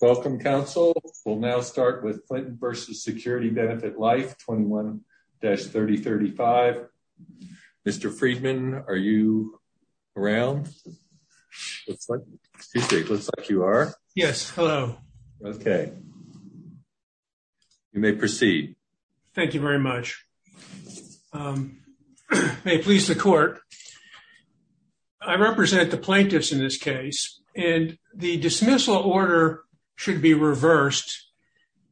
Welcome, counsel. We'll now start with Clinton v. Security Benefit Life 21-3035. Mr. Friedman, are you around? Looks like you are. Yes, hello. Okay, you may proceed. Thank you very much. May it please the court, I represent the plaintiffs in this case. The dismissal order should be reversed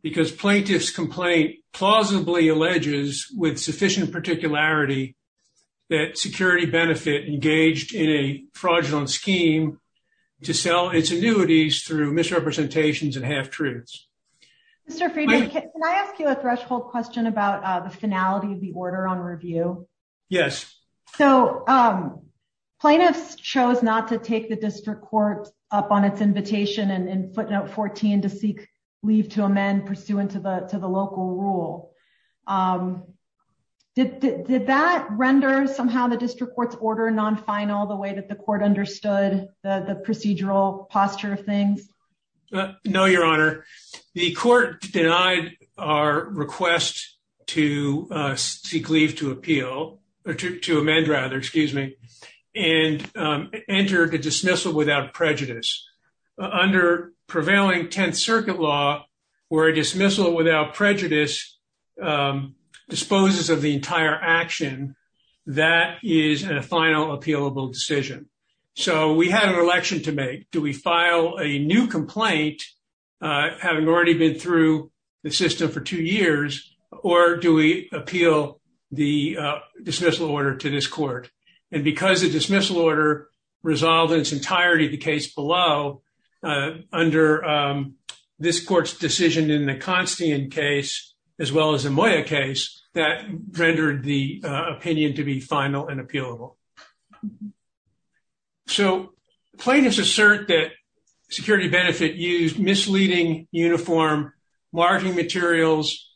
because plaintiff's complaint plausibly alleges with sufficient particularity that Security Benefit engaged in a fraudulent scheme to sell its annuities through misrepresentations and half-truths. Mr. Friedman, can I ask you a threshold question about the finality of the order on review? Yes. So plaintiffs chose not to take the district court up on its invitation in footnote 14 to seek leave to amend pursuant to the local rule. Did that render somehow the district court's order non-final the way that the court understood the procedural posture of things? No, Your without prejudice. Under prevailing 10th Circuit law, where a dismissal without prejudice disposes of the entire action, that is a final appealable decision. So we had an election to make. Do we file a new complaint, having already been through the system for two years, or do we resolve in its entirety the case below under this court's decision in the Constian case, as well as the Moya case, that rendered the opinion to be final and appealable? So plaintiffs assert that Security Benefit used misleading uniform marketing materials,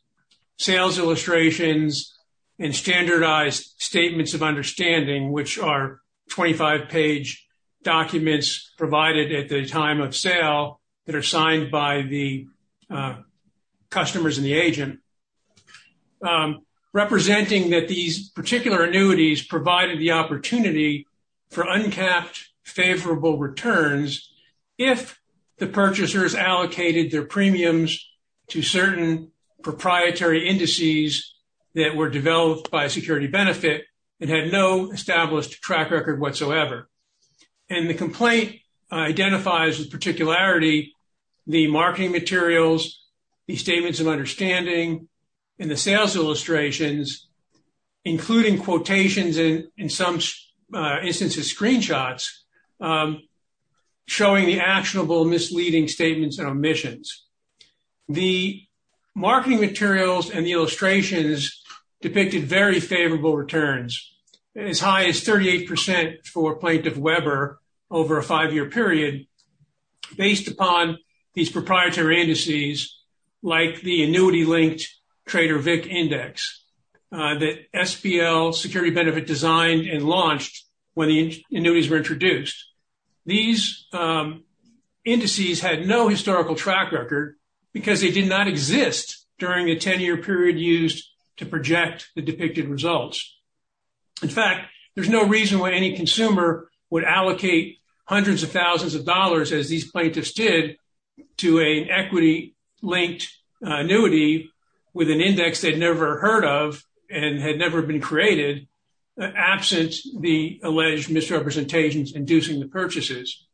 sales illustrations, and standardized statements of understanding, which are 25-page documents provided at the time of sale that are signed by the customers and the agent, representing that these particular annuities provided the opportunity for uncapped favorable returns if the purchasers allocated their premiums to certain proprietary indices that were developed by Security Benefit and had no established track record whatsoever. And the complaint identifies with particularity the marketing materials, the statements of understanding, and the sales illustrations, including quotations and in some instances screenshots, showing the actionable misleading statements and omissions. The marketing materials and the illustrations depicted very favorable returns, as high as 38% for Plaintiff Weber over a five-year period, based upon these proprietary indices, like the annuity-linked Trader Vic index that SPL Security Benefit designed and launched when the annuities were introduced. These indices had no historical track record because they did not exist during a 10-year period used to project the depicted results. In fact, there's no reason why any consumer would allocate hundreds of thousands of dollars, as these plaintiffs did, to an equity-linked annuity with an index they'd never heard of and had never been created, absent the alleged misrepresentations inducing the purchases.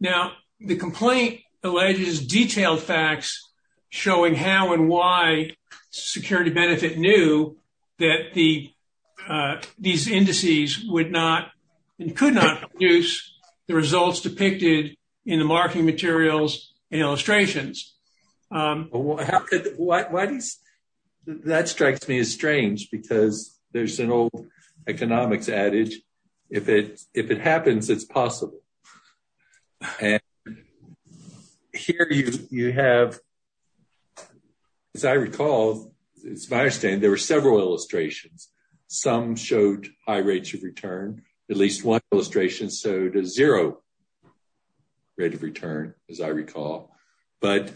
Now, the complaint alleges detailed facts showing how and why Security Benefit knew that these indices would not and could not produce the results depicted in the marketing materials and illustrations. That strikes me as strange because there's an old economics adage, if it happens, it's possible. And here you have, as I recall, as far as I understand, there were several illustrations. Some showed high rates of return. At least one illustration showed a zero rate of return, as I recall. But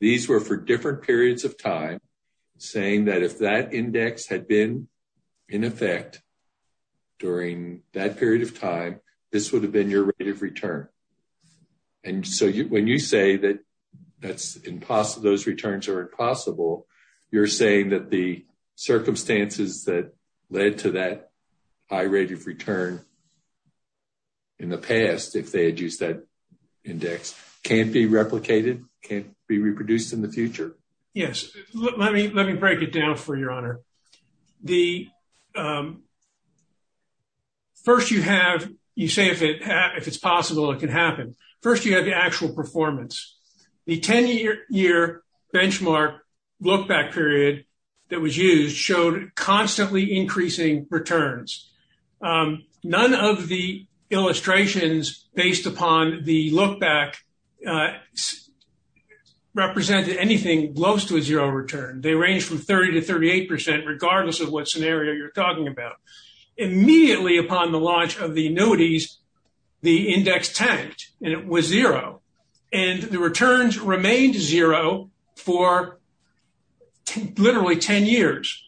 these were for different periods of time, saying that if that index had been in effect during that period of time, this would have been your rate of return. And so when you say that those returns are impossible, you're saying that circumstances that led to that high rate of return in the past, if they had used that index, can't be replicated, can't be reproduced in the future? Yes. Let me break it down for you, Your Honor. First, you say if it's possible, it can happen. First, you have the actual performance. The 10-year benchmark lookback period that was used showed constantly increasing returns. None of the illustrations based upon the lookback represented anything close to a zero return. They ranged from 30 to 38 percent, regardless of what scenario you're talking about. Immediately upon the launch of the annuities, the index tanked, and it was zero. And the returns remained zero for literally 10 years.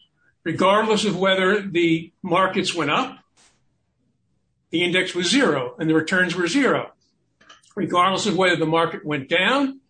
Regardless of whether the markets went up, the index was zero, and the returns were zero. Regardless of whether the market went down,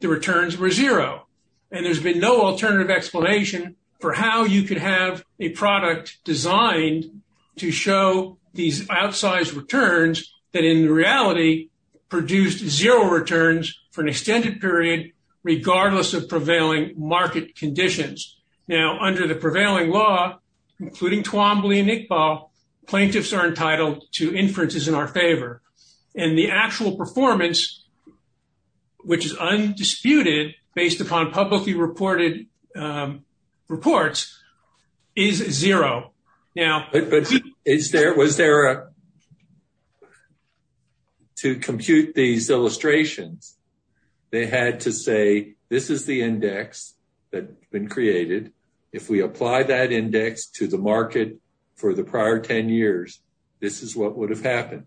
the returns were zero. And there's been no alternative explanation for how you could have a product designed to show these outsized returns that in reality produced zero returns for an extended period, regardless of prevailing market conditions. Now, under the prevailing law, including Twombly and Iqbal, plaintiffs are entitled to inferences in our favor. And the actual performance, which is undisputed based upon publicly reported reports, is zero. Now, is there, was there a to compute these illustrations, they had to say this is the index that's been created. If we apply that index to the market for the prior 10 years, this is what would have happened.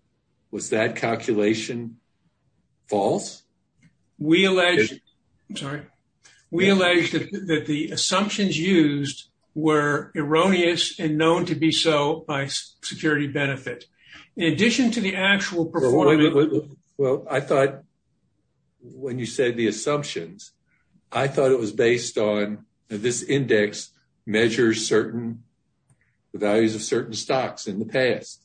Was that calculation false? We allege, I'm sorry, we allege that the assumptions used were erroneous and known to be so by security benefit. In addition to the actual performance. Well, I thought when you said the assumptions, I thought it was based on this index measures certain, the values of certain stocks in the past.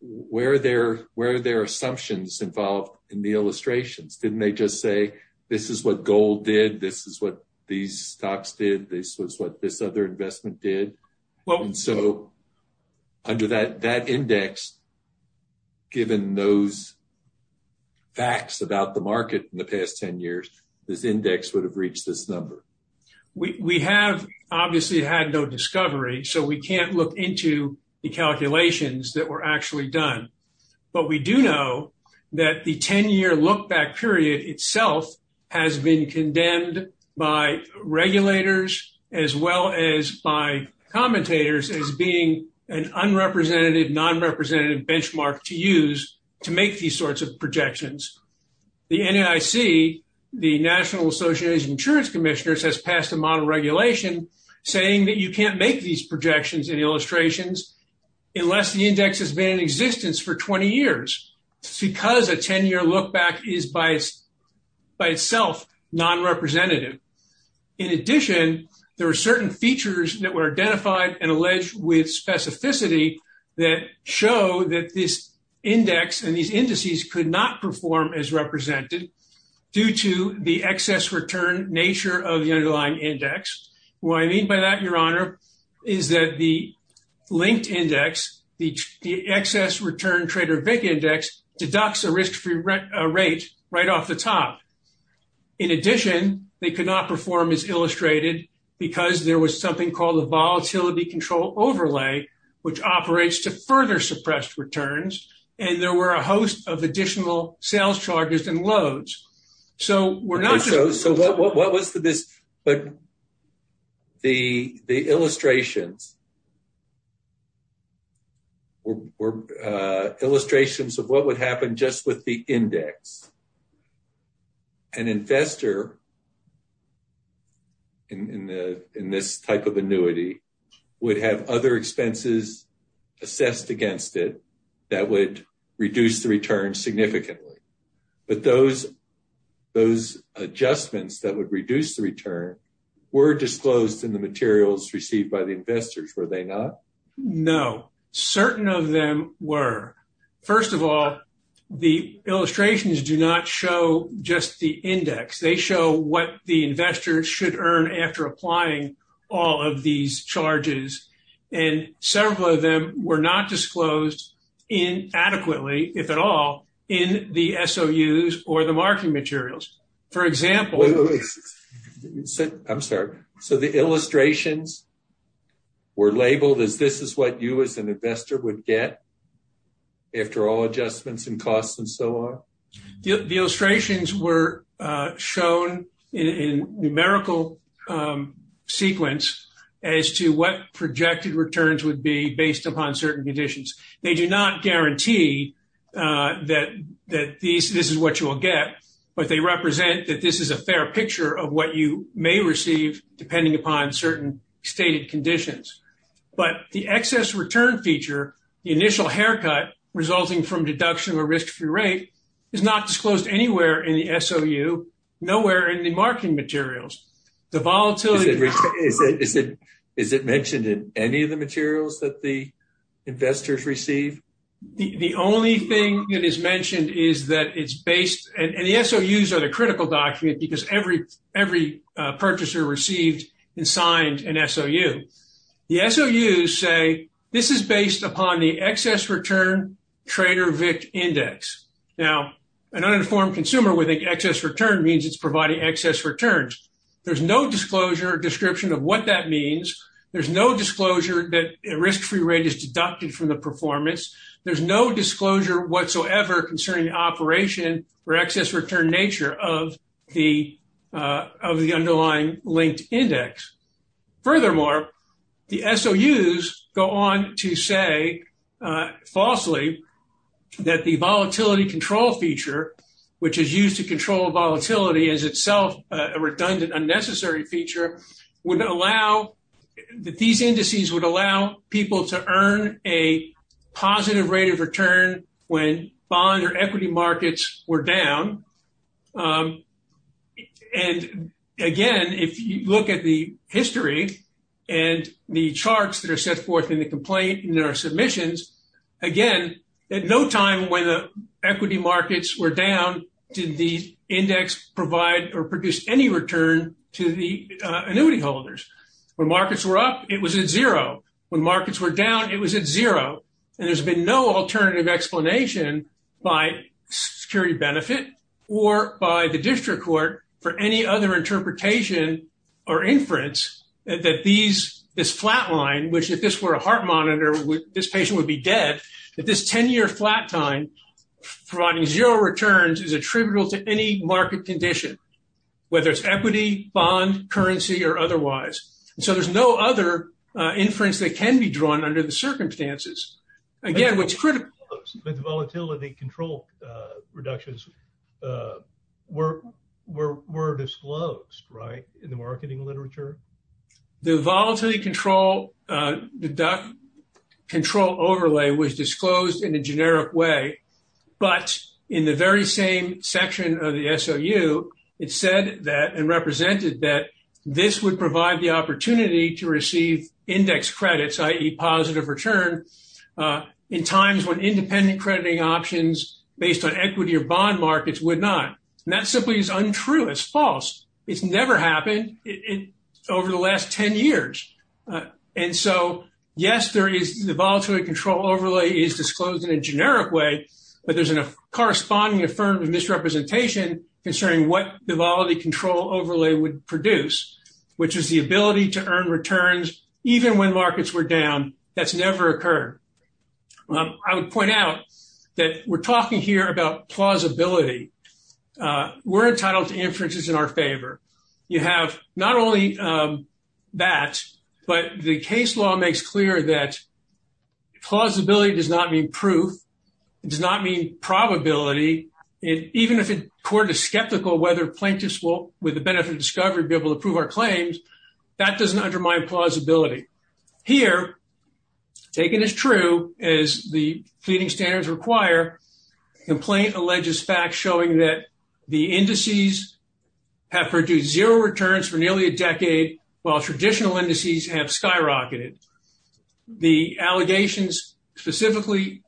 Where are their assumptions involved in the illustrations? Didn't they just say, this is what gold did, this is what these stocks did, this was what this other investment did. And so under that index, given those facts about the market in the past 10 years, this index would have reached this number. We have obviously had no discovery, so we can't look into the calculations that were actually done. But we do know that the 10 year look back period itself has been condemned by regulators, as well as by commentators as being an unrepresentative, non-representative benchmark to use to make these projections. The NAIC, the National Association of Insurance Commissioners has passed a model regulation saying that you can't make these projections and illustrations unless the index has been in existence for 20 years. Because a 10 year look back is by itself non-representative. In addition, there are certain features that were identified and alleged with specificity that show that this index and these indices could not perform as represented due to the excess return nature of the underlying index. What I mean by that, Your Honor, is that the linked index, the excess return Trader Vic index, deducts a risk-free rate right off the top. In addition, they could not perform as illustrated because there was something called volatility control overlay, which operates to further suppress returns, and there were a host of additional sales charges and loads. So we're not... So what was this, but the illustrations were illustrations of what would happen just with the index. An investor in this type of annuity would have other expenses assessed against it that would reduce the return significantly. But those adjustments that would reduce the return were disclosed in the materials received by the investors, were they not? No, certain of them were. First of all, the illustrations do not show just the index. They show what the investor should earn after applying all of these charges, and several of them were not disclosed inadequately, if at all, in the SOUs or the marketing materials. For example... I'm sorry. So the illustrations were labeled as this is what you an investor would get after all adjustments and costs and so on? The illustrations were shown in numerical sequence as to what projected returns would be based upon certain conditions. They do not guarantee that this is what you will get, but they represent that this is a fair feature. The initial haircut resulting from deduction of a risk-free rate is not disclosed anywhere in the SOU, nowhere in the marketing materials. The volatility... Is it mentioned in any of the materials that the investors receive? The only thing that is mentioned is that it's based... And the SOUs are the critical document because every purchaser received and signed an SOU. The SOUs say this is based upon the excess return trader vic index. Now, an uninformed consumer with an excess return means it's providing excess returns. There's no disclosure or description of what that means. There's no disclosure that a risk-free rate is deducted from the performance. There's no disclosure whatsoever concerning the operation or excess return nature of the underlying linked index. Furthermore, the SOUs go on to say falsely that the volatility control feature, which is used to control volatility as itself a redundant unnecessary feature, would allow that these indices would allow people to earn a positive rate of return when bond or equity markets were down. And again, if you look at the history and the charts that are set forth in the complaint in our submissions, again, at no time when the equity markets were down did the index provide or produce any return to the annuity holders. When markets were up, it was at zero. When markets were down, it was at zero. And there's been no alternative explanation by security benefit or by the district court for any other interpretation or inference that this flatline, which if this were a heart monitor, this patient would be dead, that this 10-year flat time providing zero returns is attributable to any market condition, whether it's equity, bond, currency, or otherwise. So there's no other inference that can be drawn under the circumstances. Again, what's critical... But the volatility control reductions were disclosed, right, in the marketing literature? The volatility control deduct control overlay was disclosed in a generic way. But in the very same section of the SOU, it said that and represented that this would provide the opportunity to receive index credits, i.e. positive return, in times when independent crediting options based on equity or bond markets would not. And that simply is untrue. It's false. It's never happened over the last 10 years. And so, yes, the volatility control overlay is disclosed in a generic way, but there's a corresponding affirmative misrepresentation concerning what the volatility control overlay would produce, which is the ability to earn returns even when markets were down. That's never occurred. I would point out that we're talking here about plausibility. We're entitled to inferences in our favor. You have not only that, but the case law makes clear that plausibility does not mean proof. It does not mean probability. Even if a court is skeptical whether plaintiffs will, with the benefit of discovery, be able to prove our claims, that doesn't undermine plausibility. Here, taken as true as the pleading standards require, complaint alleges facts showing that the indices have produced zero returns for nearly a decade, while traditional indices have skyrocketed. The allegations specifically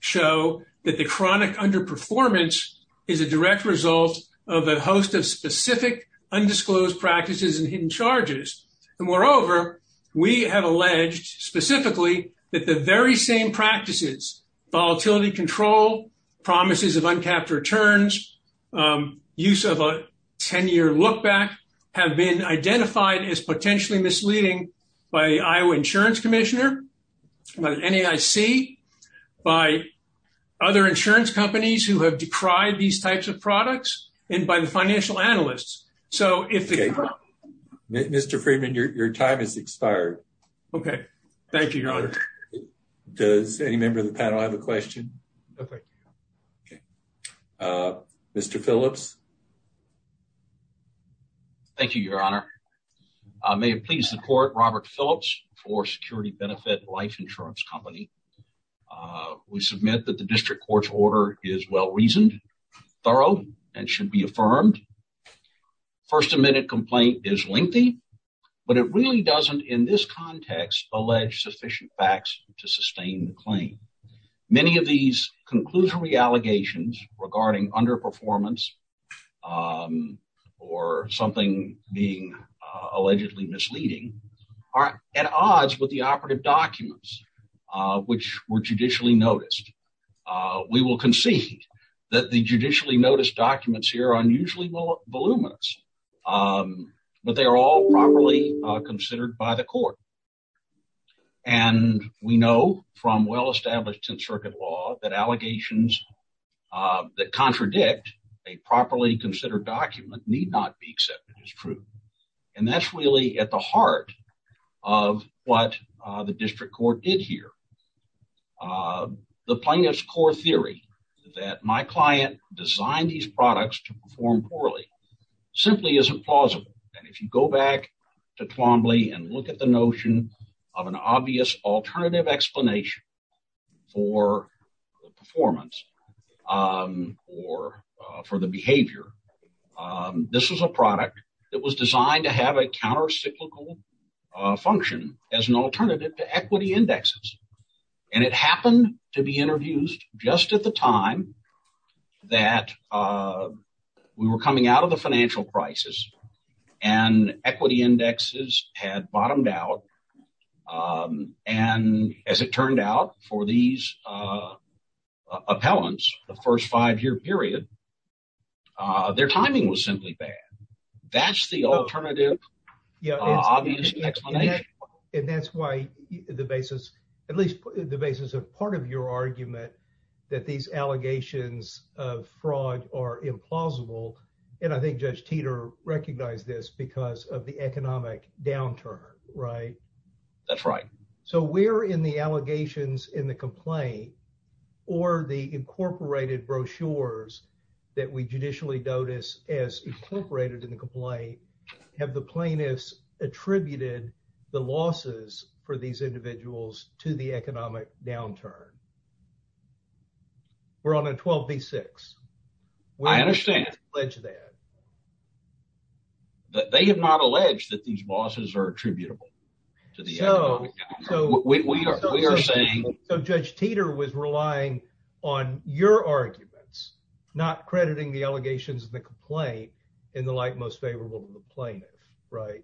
show that the chronic underperformance is a direct result of a host of specific undisclosed practices and hidden charges. And moreover, we have alleged specifically that the very same practices, volatility control, promises of uncapped returns, use of a 10-year look-back, have been identified as potentially misleading by Iowa Insurance Commissioner, by NAIC, by other insurance companies who have decried these types of products, and by the financial analysts. Mr. Friedman, your time has expired. Okay. Thank you, Your Honor. Does any member of the panel have a question? Okay. Mr. Phillips? Thank you, Your Honor. May it please the Court, Robert Phillips for Security Benefit Life Insurance Company. We submit that the district court's order is well-reasoned, thorough, and should be affirmed. First Amendment complaint is lengthy, but it really doesn't, in this context, allege sufficient facts to sustain the claim. Many of these conclusory allegations regarding underperformance or something being allegedly misleading are at odds with the operative documents which were judicially noticed. We will concede that the judicially noticed documents here are unusually voluminous, but they are all properly considered by the court. We know from well-established 10th Circuit law that allegations that contradict a properly considered document need not be accepted as true. That's really at the heart of what the district court did here. The plaintiff's core theory that my client designed these products to perform poorly simply isn't plausible. If you go back to Twombly and look at the notion of an obvious alternative explanation for performance or for the behavior, this is a product that was designed to have a counter-cyclical function as an alternative to equity indexes. It happened to be interviewed just at the time that we were coming out of financial crisis, and equity indexes had bottomed out. As it turned out for these appellants in the first five-year period, their timing was simply bad. That's the alternative obvious explanation. That's why the basis, at least the basis of part of your argument, that these allegations of fraud are implausible, and I think Judge Teeter recognized this because of the economic downturn, right? That's right. So where in the allegations in the complaint or the incorporated brochures that we judicially notice as incorporated in the complaint, have the plaintiffs attributed the losses for these individuals to the economic downturn? We're on a 12 v. 6. I understand. They have not alleged that these losses are attributable to the economic downturn. So Judge Teeter was relying on your arguments, not crediting the allegations of the complaint in the light most favorable to the plaintiff, right?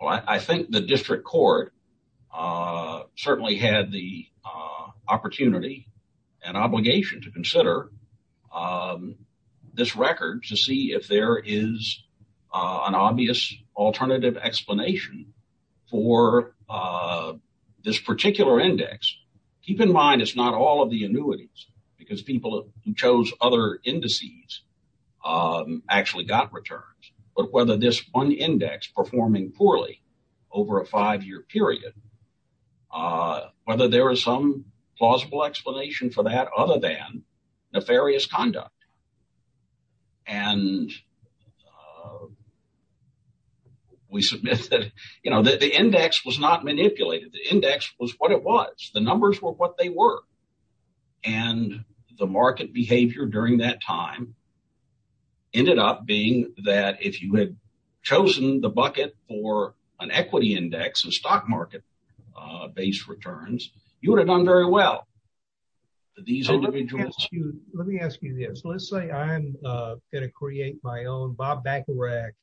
Well, I think the district court certainly had the opportunity and obligation to consider this record to see if there is an obvious alternative explanation for this particular index. Keep in mind, it's not all of the annuities, because people who chose other returns, but whether this one index performing poorly over a five-year period, whether there is some plausible explanation for that other than nefarious conduct. We submit that the index was not manipulated. The index was what it was. The numbers were what they were. The market behavior during that time ended up being that if you had chosen the bucket for an equity index and stock market-based returns, you would have done very well. Let me ask you this. Let's say I'm going to create my own Bob Bacharach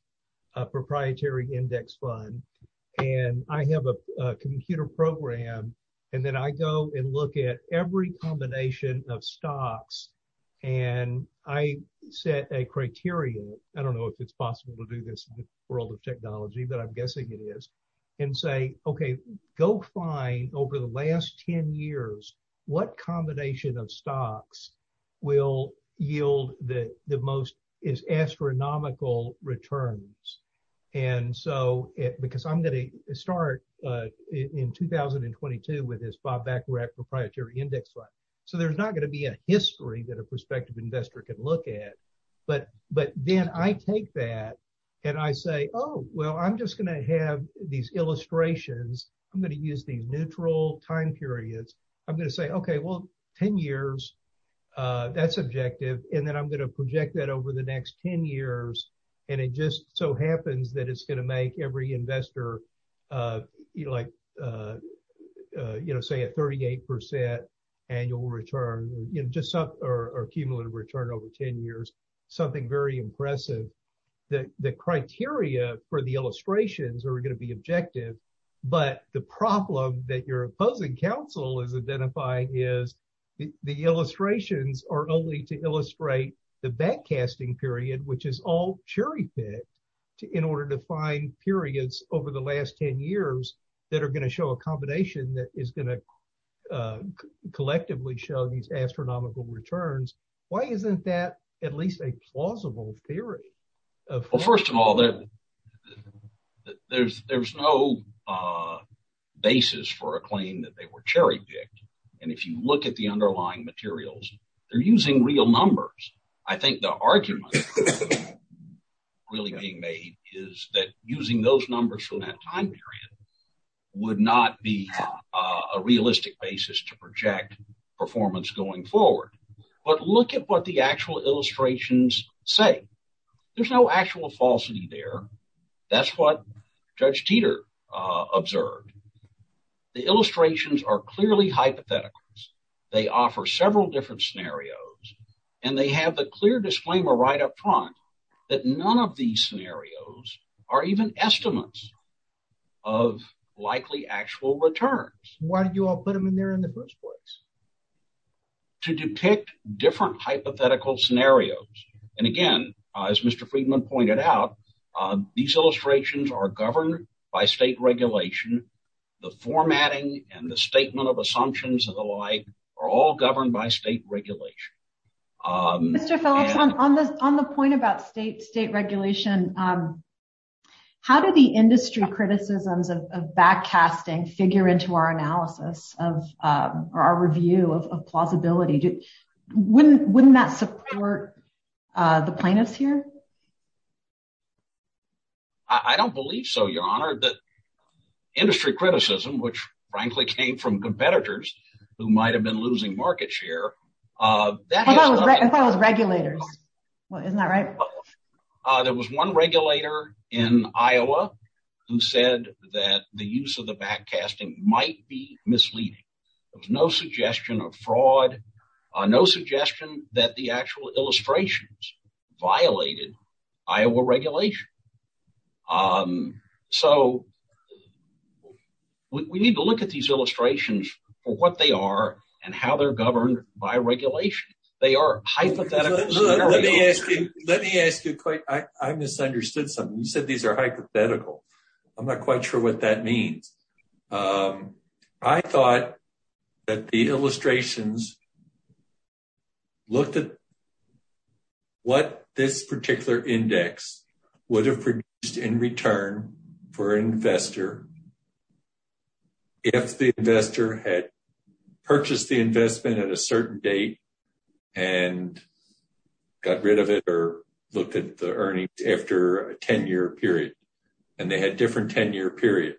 proprietary index fund, and I have a computer program, and then I go and look at every combination of stocks, and I set a criteria. I don't know if it's possible to do this in the world of technology, but I'm guessing it is, and say, okay, go find over the last 10 years what combination of stocks will yield the most astronomical returns, because I'm going to start in 2022 with this Bob Bacharach proprietary index fund, so there's not going to be a history that a prospective investor can look at, but then I take that, and I say, oh, well, I'm just going to have these illustrations. I'm going to use these neutral time periods. I'm going to say, okay, well, 10 years, that's objective, and then I'm going to project that over the next 10 years, and it just so happens that it's going to make every investor like say a 38% annual return or cumulative return over 10 years, something very impressive. The criteria for the illustrations are going to be objective, but the problem that your opposing counsel is identifying is the illustrations are only to illustrate the backcasting period, which is all cherry-picked in order to find periods over the last 10 years that are going to show a combination that is going to collectively show these astronomical returns. Why isn't that at least a plausible theory? Well, first of all, there's no basis for a claim that they were cherry-picked, and if you look at the underlying materials, they're using real numbers. I think the argument really being made is that using those numbers from that time period would not be a realistic basis to project performance going forward, but look at what the actual illustrations say. There's no actual falsity there. That's what Judge Teeter observed. The illustrations are clearly hypotheticals. They offer several different scenarios, and they have the clear disclaimer right up front that none of these scenarios are even estimates of likely actual returns. Why did you all put them in there in the first place? To depict different hypothetical scenarios, and again, as Mr. Friedman pointed out, these illustrations are governed by state regulation. The formatting and the statement of assumptions and the like are all governed by state regulation. Mr. Phillips, on the point about state regulation, how do the industry criticisms of backcasting figure into our analysis or our review of plausibility? Wouldn't that support the plaintiffs here? I don't believe so, Your Honor. Industry criticism, which frankly came from competitors who might have been losing market share... I thought it was regulators. Isn't that right? There was one regulator in Iowa who said that the use of the backcasting might be misleading. There was no suggestion of fraud, no suggestion that the actual illustrations violated Iowa regulation. So we need to look at these illustrations for what they are and how they're governed by regulation. They are hypothetical scenarios. Let me ask you, Coyte. I misunderstood something. You said these are hypothetical. I'm not quite sure what that means. I thought that the illustrations looked at what this particular index would have produced in for an investor if the investor had purchased the investment at a certain date and got rid of it or looked at the earnings after a 10-year period. They had different 10-year periods,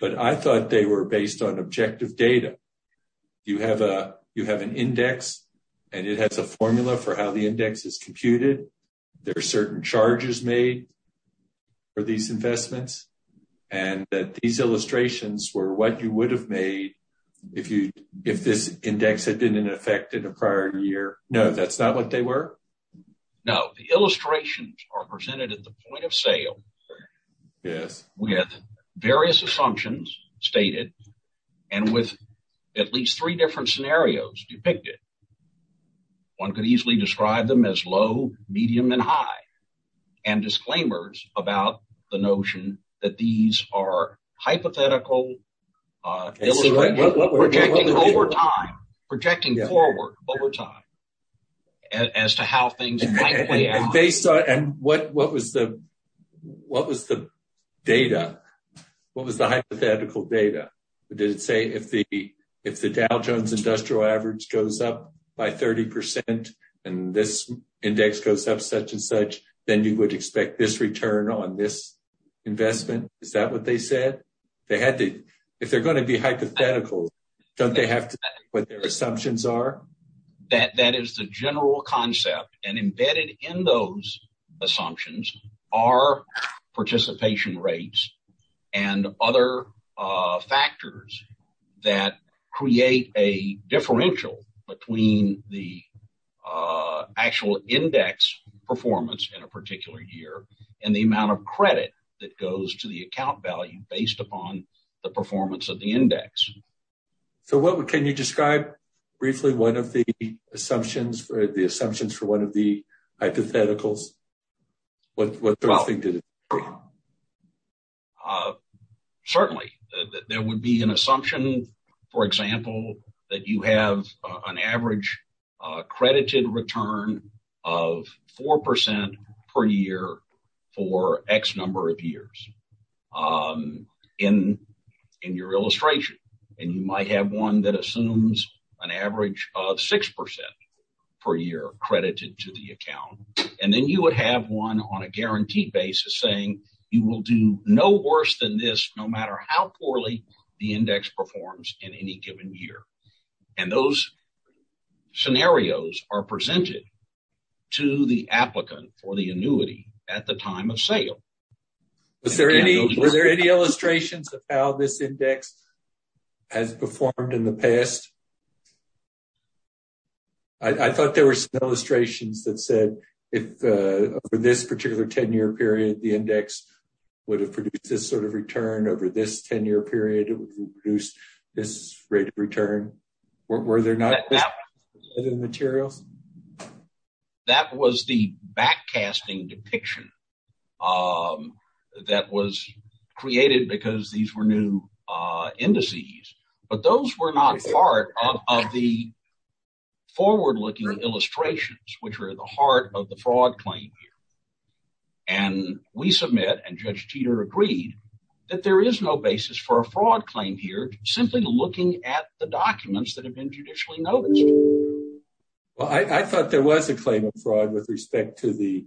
but I thought they were based on objective data. You have an index and it has a formula for how the index is invested. These illustrations were what you would have made if this index had been in effect in a prior year. No, that's not what they were? No. The illustrations are presented at the point of sale with various assumptions stated and with at least three different scenarios depicted. One could easily describe them as low, medium, and high. There are disclaimers about the notion that these are hypothetical, projecting forward over time as to how things might play out. And what was the data? What was the hypothetical data? Did it say if the Dow Jones Industrial Average goes up by 30 percent and this index goes up such and such, then you would expect this return on this investment? Is that what they said? If they're going to be hypothetical, don't they have to say what their assumptions are? That is the general concept, and embedded in those assumptions are participation rates and other factors that create a differential between the actual index performance in a particular year and the amount of credit that goes to the account value based upon the performance of the index. So, can you describe briefly one of the assumptions for one of the hypotheticals? Certainly, there would be an assumption, for example, that you have an average credited return of four percent per year for X number of years in your illustration. And you might have one that assumes an average of six percent per year credited to the account. And then you would have one on a guaranteed basis saying you will do no worse than this no matter how poorly the index performs in any given year. And those scenarios are presented to the applicant for the annuity at the time of sale. Were there any illustrations of how this index has performed in the past? I thought there were some illustrations that said if for this particular 10-year period, the index would have produced this sort of return over this 10-year period. It would have produced this rate of return. Were there not other materials? That was the backcasting depiction that was created because these were new indices. But those were not part of the forward-looking illustrations, which are the heart of the fraud claim here. And we submit, and Judge Teeter agreed, that there is no basis for a fraud claim here, simply looking at the documents that have been judicially noticed. Well, I thought there was a claim of fraud with respect to the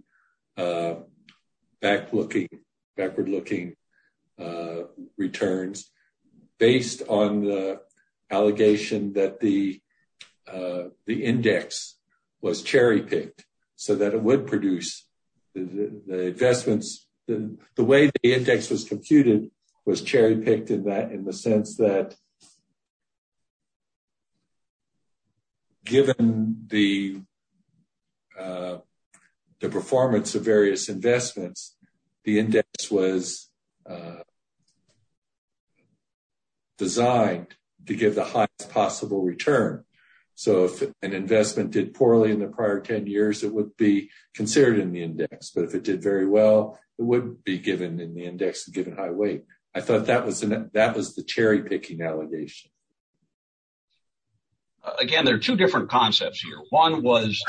backward-looking returns based on the allegation that the index was cherry-picked so that it would produce the investments. The way the index was computed was cherry-picked in the sense that given the performance of various investments, the index was designed to give the highest possible return. So, if an investment did poorly in the prior 10 years, it would be considered in the index. But if it did very well, it would be given in the index and given high weight. I thought that was the cherry-picking allegation. Again, there are two different concepts here. One was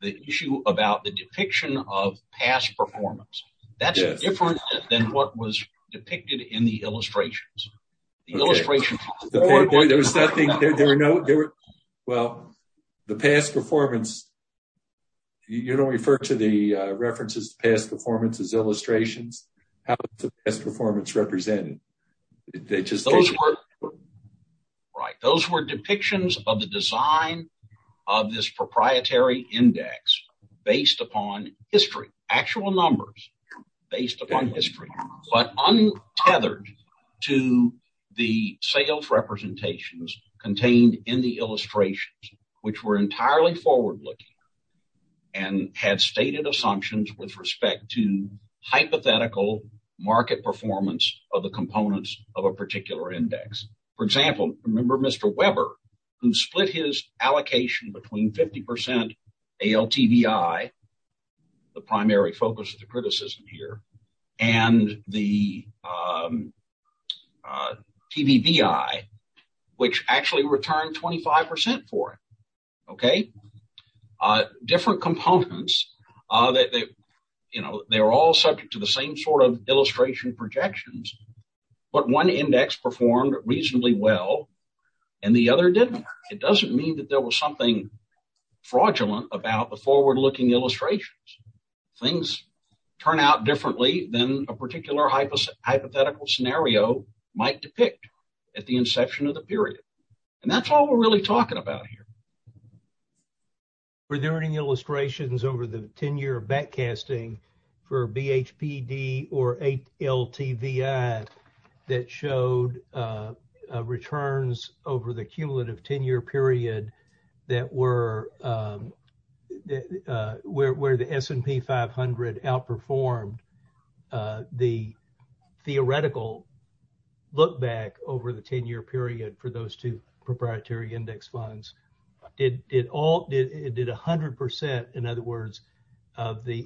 the issue about the depiction of past performance. That's different than what was depicted in the illustrations. The past performance, you don't refer to the references to past performance as illustrations. How is past performance represented? Those were depictions of the design of this proprietary index based upon history, actual numbers based upon history, but untethered to the sales representations contained in the illustrations, which were entirely forward-looking and had stated assumptions with respect to hypothetical market performance of the components of a particular index. For example, remember Mr. Weber, who split his allocation between 50% ALTBI, the primary focus of the criticism here, and the TVBI, which actually returned 25% for it. Different components, they were all subject to the same sort of illustration projections, but one index performed reasonably well and the other didn't. It doesn't mean that there was something fraudulent about the forward-looking illustrations. Things turn out differently than a particular hypothetical scenario might depict at the inception of the period. That's all we're really talking about here. Were there any illustrations over the cumulative 10-year period where the S&P 500 outperformed the theoretical look-back over the 10-year period for those two proprietary index funds? It did 100%, in other words, of the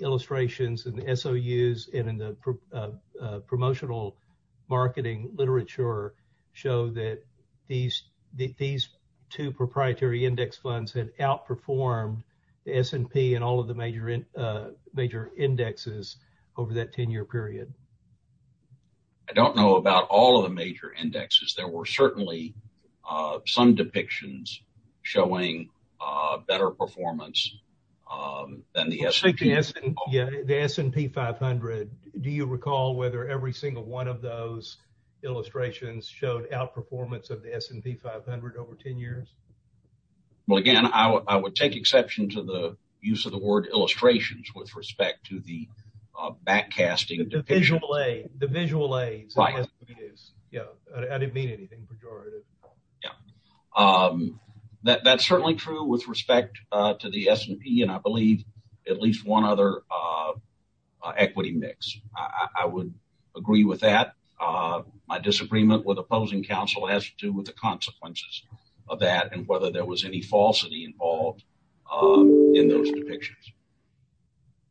two proprietary index funds that outperformed the S&P and all of the major indexes over that 10-year period. I don't know about all of the major indexes. There were certainly some depictions showing better performance than the S&P. Speaking of the S&P 500, do you recall whether every single of those illustrations showed outperformance of the S&P 500 over 10 years? Well, again, I would take exception to the use of the word illustrations with respect to the backcasting. The visual aid. The visual aids. Right. I didn't mean anything pejorative. Yeah. That's certainly true with the S&P and I believe at least one other equity mix. I would agree with that. My disagreement with opposing counsel has to do with the consequences of that and whether there was any falsity involved in those depictions.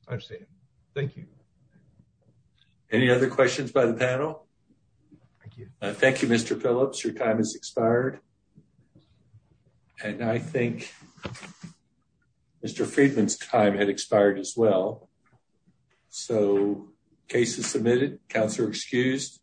I see. Thank you. Any other questions by the panel? Thank you. Thank you, Mr. Phillips. Your time has expired. And I think Mr. Friedman's time had expired as well. So, case is submitted. Counselor excused.